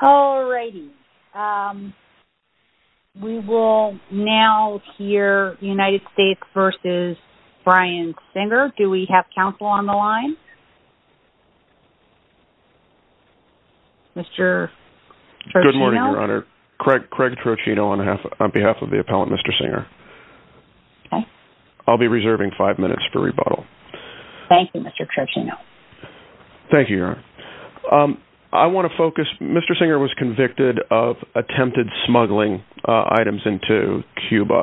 All righty. We will now hear United States v. Bryan Singer. Do we have counsel on the line? Mr. Trochino? Good morning, Your Honor. Craig Trochino on behalf of the appellant, Mr. Singer. I'll be reserving five minutes for rebuttal. Thank you, Mr. Trochino. Thank you. Mr. Singer was convicted of attempted smuggling items into Cuba,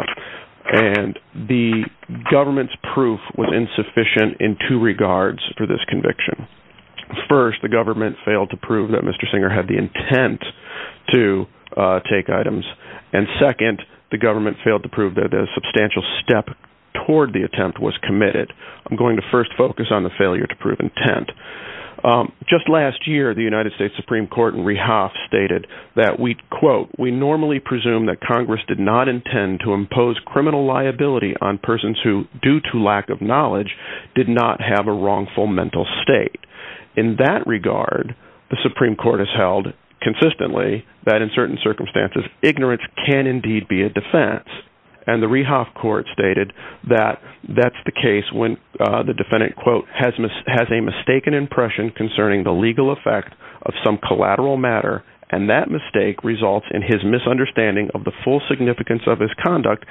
and the government's proof was insufficient in two regards for this conviction. First, the government failed to prove that Mr. Singer had the intent to take items, and second, the government failed to prove that a substantial step toward the attempt was committed. I'm going to first focus on the failure to prove intent. Just last year, the United States Supreme Court in Rehoff stated that we, quote, we normally presume that Congress did not intend to impose criminal liability on persons who, due to lack of knowledge, did not have a wrongful mental state. In that regard, the Supreme Court has held consistently that in certain circumstances, ignorance can indeed be a defense. And the Rehoff Court stated that that's the case when the defendant, quote, has a mistaken impression concerning the legal effect of some collateral matter, and that mistake results in his misunderstanding of the full significance of his conduct,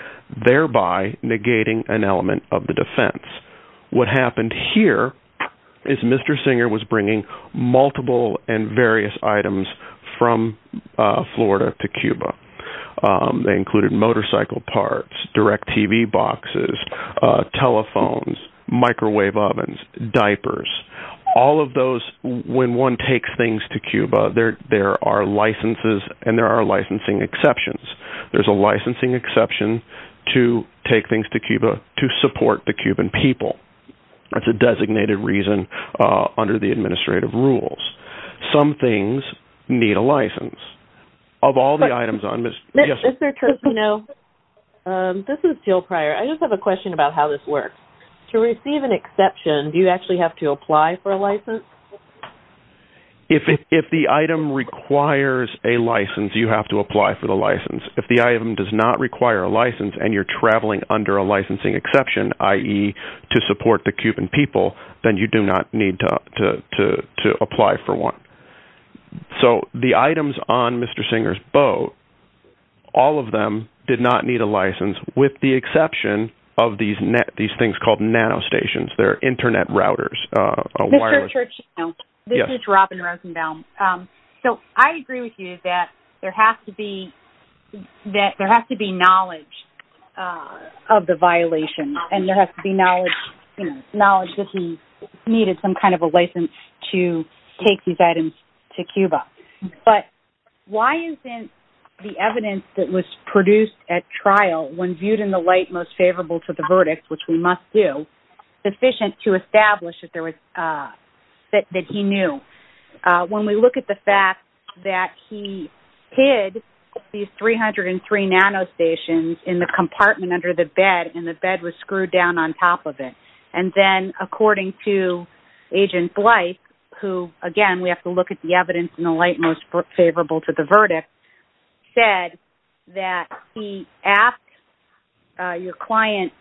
thereby negating an element of the defense. What happened here is Mr. Singer was bringing multiple and various items from Florida to Cuba. They included motorcycle parts, DirecTV boxes, telephones, microwave ovens, diapers. All of those, when one takes things to Cuba, there are licenses and there are licensing exceptions. There's a licensing exception to take things to Cuba to support the Cuban people. That's a designated reason under the administrative rules. Some things need a license. Of all the items on Ms. Yesenia's... Is there a question? No. This is Jill Pryor. I just have a question about how this works. To receive an exception, do you actually have to apply for a license? If the item requires a license, you have to apply for the license. If the item does not require a license and you're traveling under a licensing exception, i.e., to support the Cuban people, then you do not need to apply for one. So the items on Mr. Singer's boat, all of them did not need a license with the exception of these things called nanostations. They're internet routers. Mr. Churchill, this is Robin Rosenbaum. I agree with you that there has to be knowledge of the violation and there has to be knowledge that he needed some kind of a license to take these items to Cuba. But why isn't the evidence that was produced at trial, when viewed in the light most favorable to the verdict, which we must do, sufficient to establish that he knew? When we look at the fact that he hid these 303 nanostations in the compartment under the bed and the bed was screwed down on top of it, and then, according to Agent Blythe, who, again, we have to look at the evidence in the light most favorable to the your client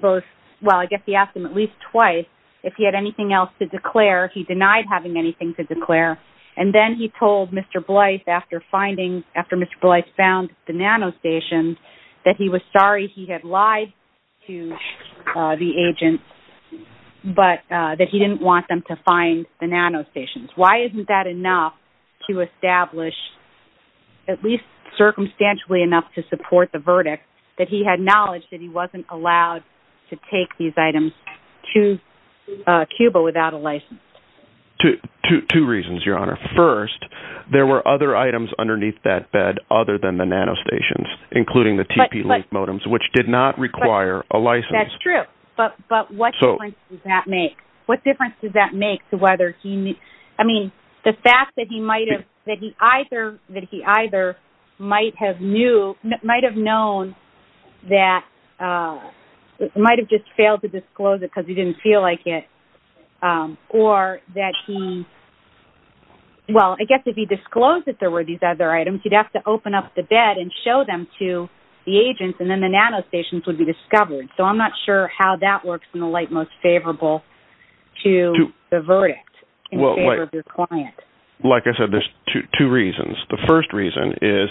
both, well, I guess he asked him at least twice if he had anything else to declare. He denied having anything to declare. And then he told Mr. Blythe, after finding, after Mr. Blythe found the nanostations, that he was sorry he had lied to the agent, but that he didn't want them to find the nanostations. Why isn't that enough to establish, at least circumstantially enough to support the verdict, that he had knowledge that he wasn't allowed to take these items to Cuba without a license? Two reasons, Your Honor. First, there were other items underneath that bed other than the nanostations, including the TP-Link modems, which did not require a license. That's true. But what difference does that make? What difference might have known that, might have just failed to disclose it because he didn't feel like it, or that he, well, I guess if he disclosed that there were these other items, he'd have to open up the bed and show them to the agents, and then the nanostations would be discovered. So I'm not sure how that works in the light most favorable to the verdict in favor of your client. Like I said, there's two reasons. The first reason is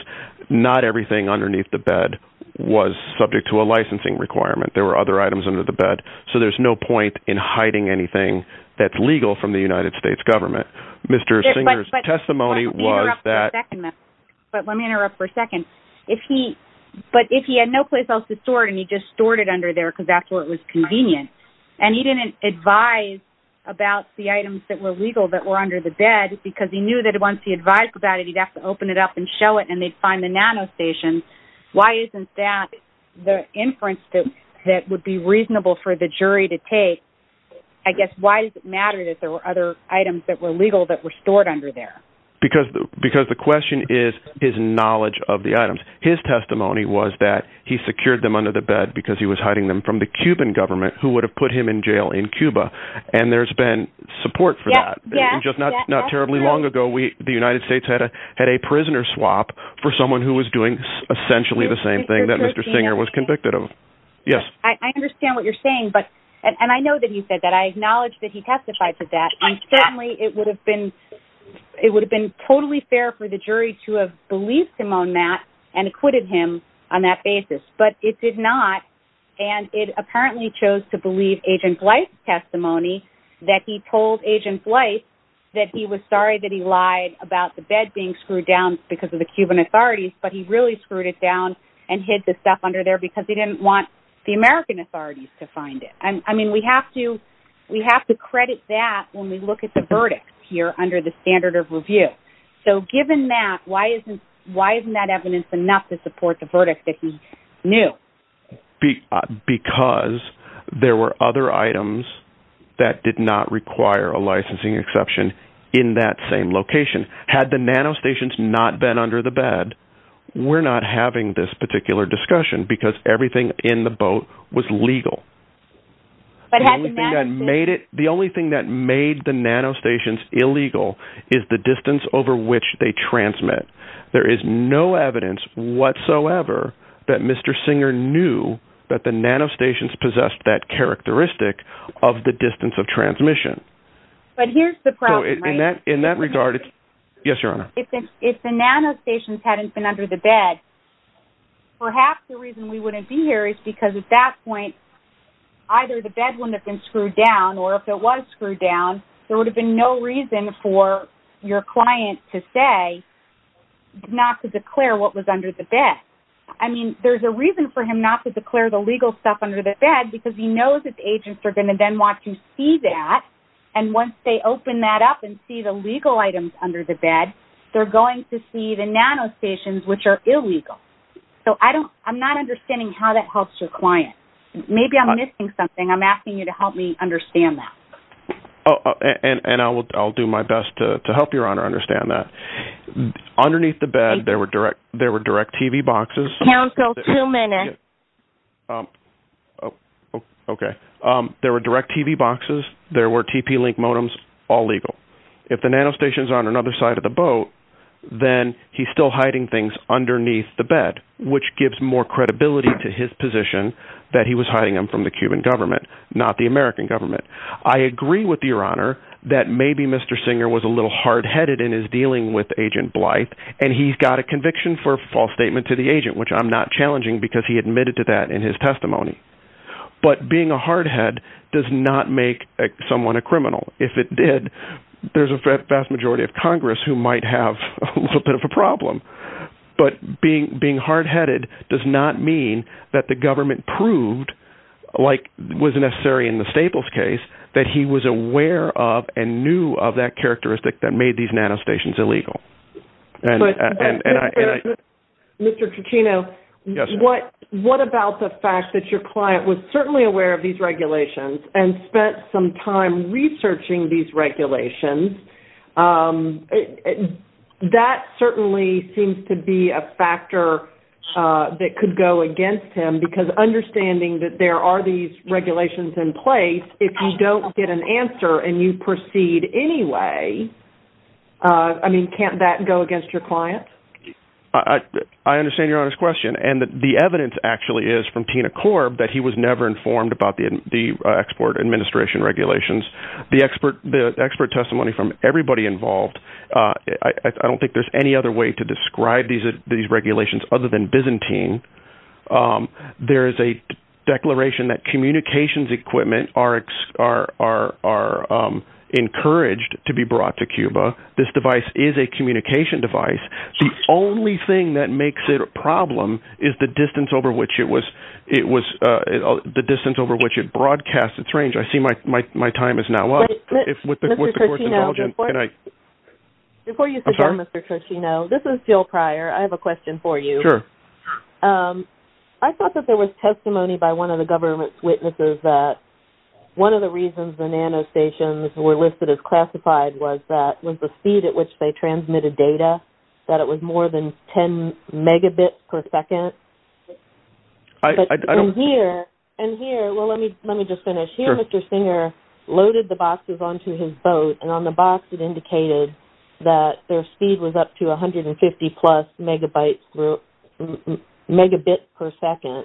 not everything underneath the bed was subject to a licensing requirement. There were other items under the bed, so there's no point in hiding anything that's legal from the United States government. Mr. Singer's testimony was that... But let me interrupt for a second. But if he had no place else to store it, and he just stored it under there because that's where it was convenient, and he didn't advise about the items that were legal that were under the bed, because he knew that once he advised about it, he'd have to open it up and show it, and they'd find the nanostations. Why isn't that the inference that would be reasonable for the jury to take? I guess, why does it matter that there were other items that were legal that were stored under there? Because the question is his knowledge of the items. His testimony was that he secured them under the bed because he was hiding them from the Cuban government, who would have put him in jail in Cuba. And there's been support for that. Not terribly long ago, the United States had a prisoner swap for someone who was doing essentially the same thing that Mr. Singer was convicted of. I understand what you're saying, and I know that he said that. I acknowledge that he testified to that, and certainly it would have been totally fair for the jury to have believed him on that and acquitted him on that basis. But it did not, and it apparently chose to believe Agent Blythe's testimony that he told Agent Blythe that he was sorry that he lied about the bed being screwed down because of the Cuban authorities, but he really screwed it down and hid the stuff under there because he didn't want the American authorities to find it. I mean, we have to credit that when we look at the verdict here under the standard of review. So given that, why isn't that evidence enough to support the because there were other items that did not require a licensing exception in that same location? Had the nanostations not been under the bed, we're not having this particular discussion because everything in the boat was legal. The only thing that made it, the only thing that made the nanostations illegal is the distance over which they transmit. There is no evidence whatsoever that Mr. Singer knew that the nanostations possessed that characteristic of the distance of transmission. But here's the problem. In that regard, if the nanostations hadn't been under the bed, perhaps the reason we wouldn't be here is because at that point, either the bed wouldn't have been screwed down or if it was screwed down, there would have been no reason for your client to say not to declare what was under the bed. I mean, there's a reason for him not to declare the legal stuff under the bed because he knows that the agents are going to then want to see that. And once they open that up and see the legal items under the bed, they're going to see the nanostations, which are illegal. So I don't, I'm not understanding how that helps your client. Maybe I'm missing something. I'm asking you to understand that. Oh, and I'll do my best to help your honor understand that underneath the bed. There were direct, there were direct TV boxes. Okay. There were direct TV boxes. There were TP link modems, all legal. If the nanostations on another side of the boat, then he's still hiding things underneath the bed, which gives more I agree with your honor that maybe Mr. Singer was a little hard headed in his dealing with agent Blythe and he's got a conviction for false statement to the agent, which I'm not challenging because he admitted to that in his testimony, but being a hard head does not make someone a criminal. If it did, there's a vast majority of Congress who might have a little bit of a problem, but being, being hard headed does not mean that the government proved like was necessary in the Staples case that he was aware of and knew of that characteristic that made these nanostations illegal. Mr. Cuccino, what, what about the fact that your client was certainly aware of these regulations and spent some time researching these regulations? That certainly seems to be a factor that could go against him because understanding that there are these regulations in place, if you don't get an answer and you proceed anyway I mean, can't that go against your client? I understand your honor's question. And the evidence actually is from Tina Corb that he was never informed about the, the export administration regulations, the expert, the expert testimony from everybody involved. I don't think there's any other way to describe these, these regulations other than Byzantine. There is a declaration that communications equipment are, are, are, are encouraged to be brought to Cuba. This device is a communication device. The only thing that makes it a problem is the distance over which it was, it was the distance over which it broadcasts its range. I see my, my, my time is now up. Mr. Cuccino, before you forget, Mr. Cuccino, this is Jill Pryor. I have a question for you. I thought that there was testimony by one of the government's witnesses that one of the reasons the nanostations were listed as classified was that, was the speed at which they transmitted data, that it was more than 10 megabits per second. And here, and here, well, let me, let me just finish. Here, Mr. Singer loaded the boxes onto his boat and on the box it indicated that their speed was up to 150 plus megabytes, megabits per second,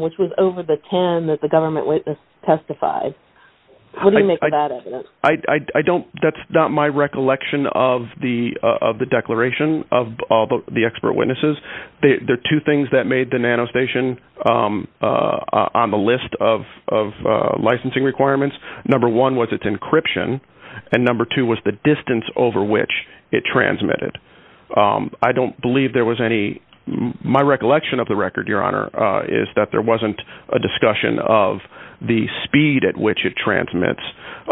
which was over the 10 that the government witness testified. What do you make of that evidence? I, I, I don't, that's not my recollection of the, of the declaration of all the expert witnesses. They, there are two things that made the nanostation on the list of, of licensing requirements. Number one was its encryption. And number two was the distance over which it transmitted. I don't believe there was any, my recollection of the record, your honor, is that there wasn't a discussion of the speed at which it transmits.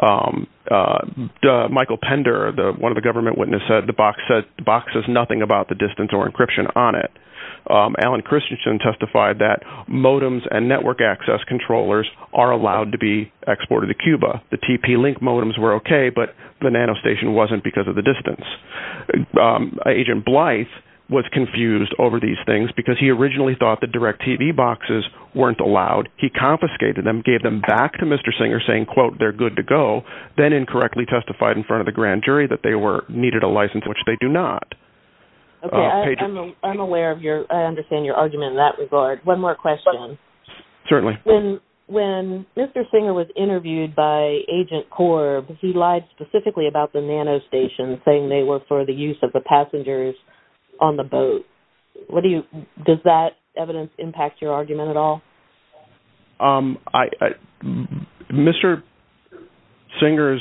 Michael Pender, the, one of the government witnesses said the box says, the box says nothing about the distance or encryption on it. Alan Christensen testified that modems and network access controllers are allowed to be exported to Cuba. The TP-Link modems were okay, but the nanostation wasn't because of the distance. Agent Blythe was confused over these things because he originally thought the DirecTV boxes weren't allowed. He confiscated them, gave them back to Mr. Singer saying, quote, they're good to go. Then incorrectly testified in front of the grand jury that they were, needed a license, which they do not. Okay. I'm aware of your, I understand your argument in that regard. One more question. Certainly. When, when Mr. Singer was interviewed by Agent Korb, he lied specifically about the nanostation saying they were for the use of the passengers on the boat. What do you, does that evidence impact your argument at all? Um, I, Mr. Singer's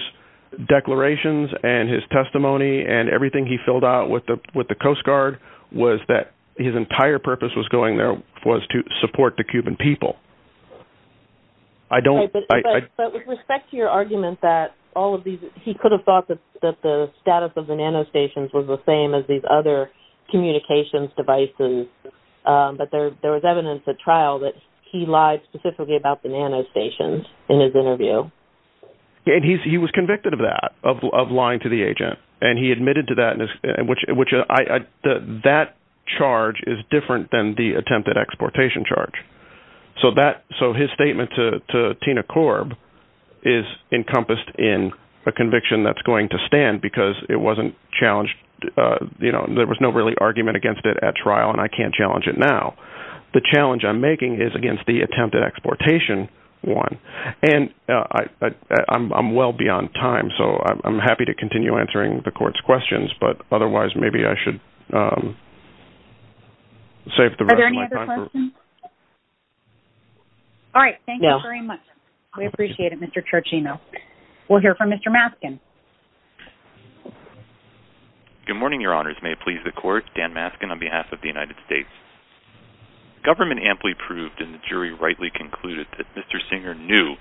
declarations and his testimony and everything he filled out with the, with the Coast Guard was that his entire purpose was going there was to support the Cuban people. I don't. But with respect to your argument that all of these, he could have thought that, that the status of the nanostations was the same as these other communications devices. But there, there was evidence at trial that he lied specifically about the nanostations in his interview. And he's, he was convicted of that, of lying to the agent. And he admitted to that in his, which, which I, that charge is different than the attempted exportation charge. So that, so his statement to Tina Korb is encompassed in a conviction that's going to stand because it wasn't challenged. You know, there was no really argument against it at trial. And I can't challenge it now. The challenge I'm making is against the attempted exportation one. And, uh, I, I, I'm, I'm well beyond time. So I'm happy to continue answering the court's questions, but otherwise maybe I should, um, save the rest of my time. All right. Thank you very much. We appreciate it. Mr. Trachino. We'll hear from Mr. Maskin. Good morning, Your Honors. May it please the court, Dan Maskin on behalf of the United States. Government amply proved in the jury rightly concluded that Mr. Singer knew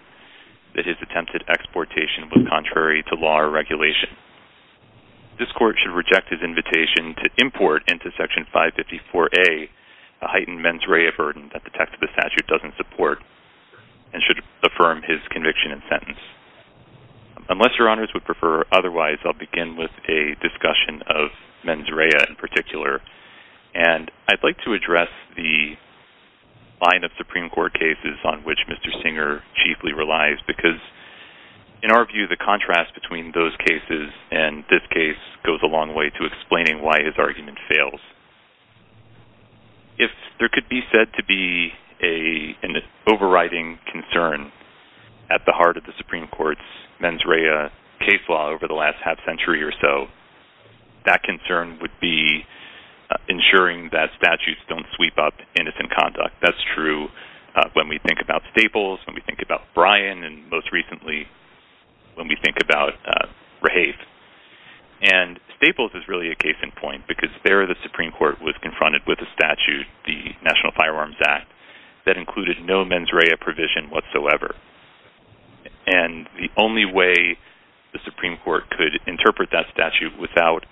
that his attempted exportation was contrary to law or regulation. This court should reject his invitation to import into section 554A, a heightened mens rea burden that the text of the statute doesn't support and should affirm his conviction and sentence. Unless Your Honors would prefer otherwise, I'll begin with a discussion of mens rea in particular. And I'd like to address the line of Supreme court cases on which Mr. Singer chiefly relies, because in our view, the contrast between those cases and this case goes a long way to explaining why his argument fails. If there could be said to be a, an overriding concern at the heart of the Supreme Court's mens rea case law over the last half century or so, that concern would be ensuring that statutes don't sweep up innocent conduct. That's true. When we think about Staples, when we think about Bryan, and most recently, when we think about Rahafe. And Staples is really a case in point because there the Supreme Court was confronted with a statute, the National Firearms Act, that included no mens rea provision whatsoever. And the only way the Supreme Court could interpret that statute without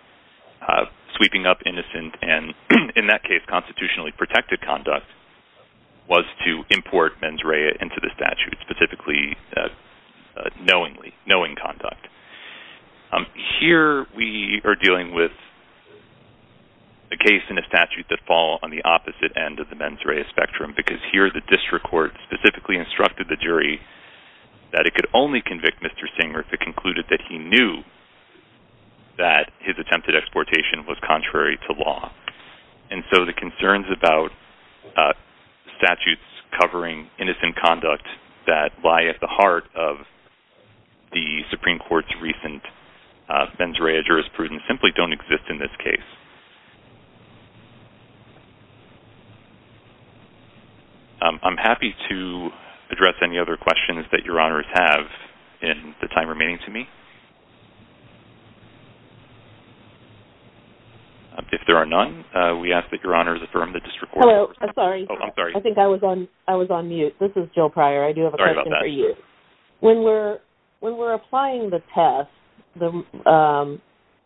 sweeping up innocent and in that case, constitutionally protected conduct was to import mens rea into the statute specifically, knowingly, knowing conduct. Here we are dealing with a case in a statute that fall on the opposite end of the mens rea because here the district court specifically instructed the jury that it could only convict Mr. Singer if it concluded that he knew that his attempted exportation was contrary to law. And so the concerns about statutes covering innocent conduct that lie at the heart of the Supreme Court's recent mens rea jurisprudence simply don't exist in this case. I'm happy to address any other questions that your honors have in the time remaining to me. If there are none, we ask that your honors affirm the district court... Hello, sorry. Oh, I'm sorry. I think I was on mute. This is Jill Pryor. I do have a question for you. Sorry about that. When we're applying the test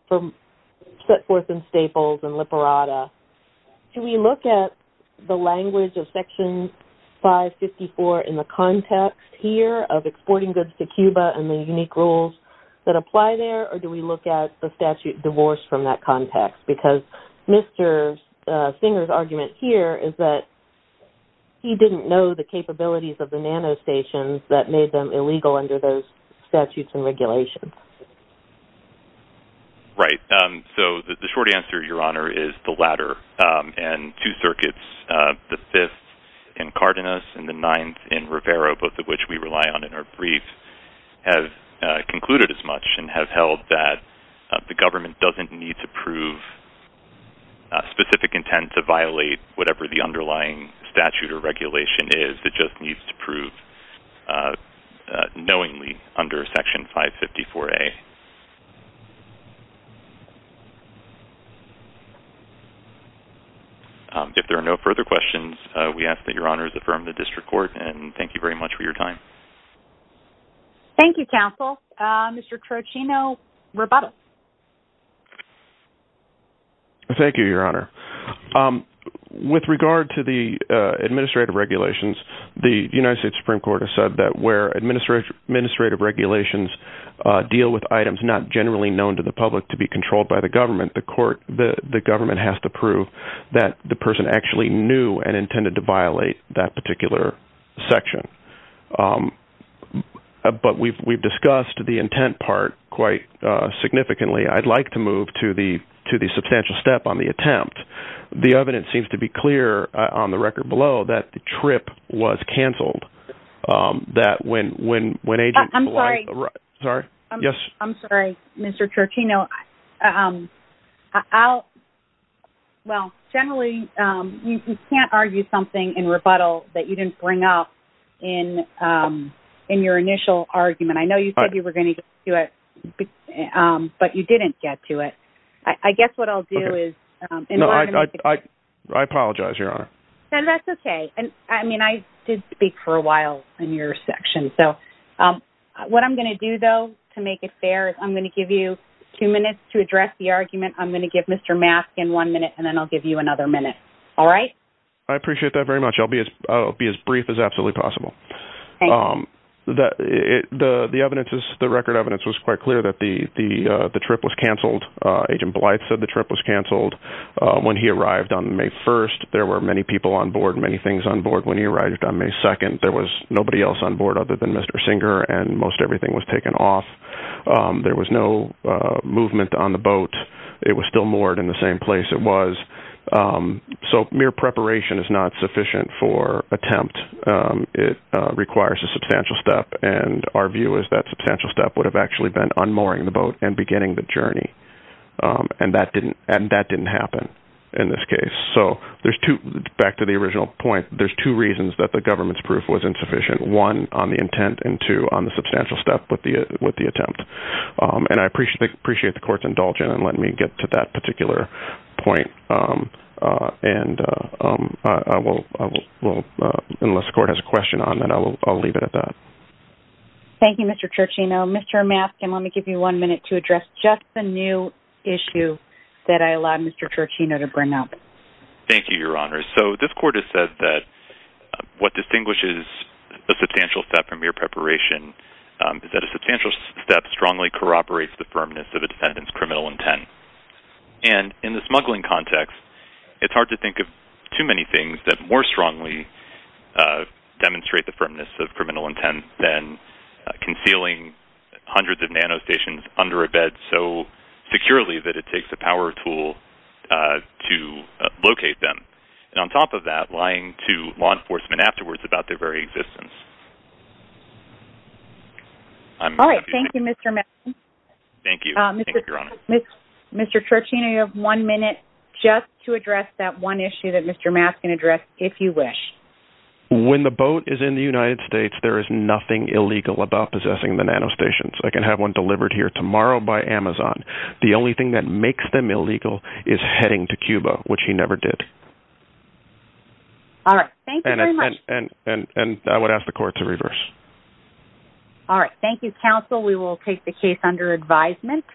from Setforth and Staples and Liparata, can we look at the language of section 554 in the context here of exporting goods to Cuba and the unique rules that apply there? Or do we look at the statute divorced from that context? Because Mr. Singer's argument here is that he didn't know the capabilities of the nanostations that made them illegal under those statutes and regulations. Right. So the short answer, your honor, is the latter. And two circuits, the fifth in Cardenas and the ninth in Rivera, both of which we rely on in our briefs, have concluded as much and have held that the government doesn't need to prove specific intent to violate whatever the underlying statute or regulation is. It just needs to prove knowingly under section 554A. If there are no further questions, we ask that your honors affirm the district court. And thank you very much for your time. Thank you, counsel. Mr. Trocino-Rabata. Thank you, your honor. With regard to the administrative regulations, the United States Supreme Court has said that where administrative regulations deal with items not generally known to the public to be controlled by the government, the government has to prove that the person actually knew and intended to violate that particular section. But we've discussed the intent part quite significantly. I'd like to move to the substantial step on the attempt. The evidence seems to be clear on the record below that the was canceled. I'm sorry, Mr. Trocino. Well, generally, you can't argue something in rebuttal that you didn't bring up in your initial argument. I know you said you were going to do it, but you didn't get to it. I guess what I'll do is- I apologize, your honor. That's okay. I did speak for a while in your section. What I'm going to do, though, to make it fair, I'm going to give you two minutes to address the argument. I'm going to give Mr. Mask in one minute, and then I'll give you another minute. All right? I appreciate that very much. I'll be as brief as absolutely possible. The record evidence was quite clear that the trip was canceled. Agent Blythe said the trip was canceled. When he arrived on May 1st, there were many people on board, many things on board. When he arrived on May 2nd, there was nobody else on board other than Mr. Singer, and most everything was taken off. There was no movement on the boat. It was still moored in the same place it was. Mere preparation is not sufficient for attempt. It requires a substantial step, and our view is that substantial step would have actually been unmooring the boat and beginning the journey. That didn't happen in this case. Back to the original point, there's two reasons that the government's proof was insufficient. One, on the intent, and two, on the substantial step with the attempt. I appreciate the court's indulgence in letting me get to that particular point. Unless the court has a question on that, I'll leave it at that. Thank you, Mr. Turchino. Mr. Maskin, let me give you one minute to address just the new issue that I allowed Mr. Turchino to bring up. Thank you, Your Honor. So, this court has said that what distinguishes a substantial step from mere preparation is that a substantial step strongly corroborates the firmness of a defendant's criminal intent. And in the smuggling context, it's hard to think of too many things that more strongly demonstrate the firmness of criminal intent than concealing hundreds of nanostations under a bed so securely that it takes a power tool to locate them. And on top of that, lying to law enforcement afterwards about their very existence. All right, thank you, Mr. Maskin. Thank you, Your Honor. Mr. Turchino, you have one minute just to address that one issue that Mr. Maskin addressed, if you wish. When the boat is in the United States, there is nothing illegal about possessing the nanostations. I can have one delivered here tomorrow by Amazon. The only thing that makes them illegal is heading to Cuba, which he never did. All right, thank you very much. And I would ask the court to reverse. All right, thank you, counsel. We will take the case under advisement.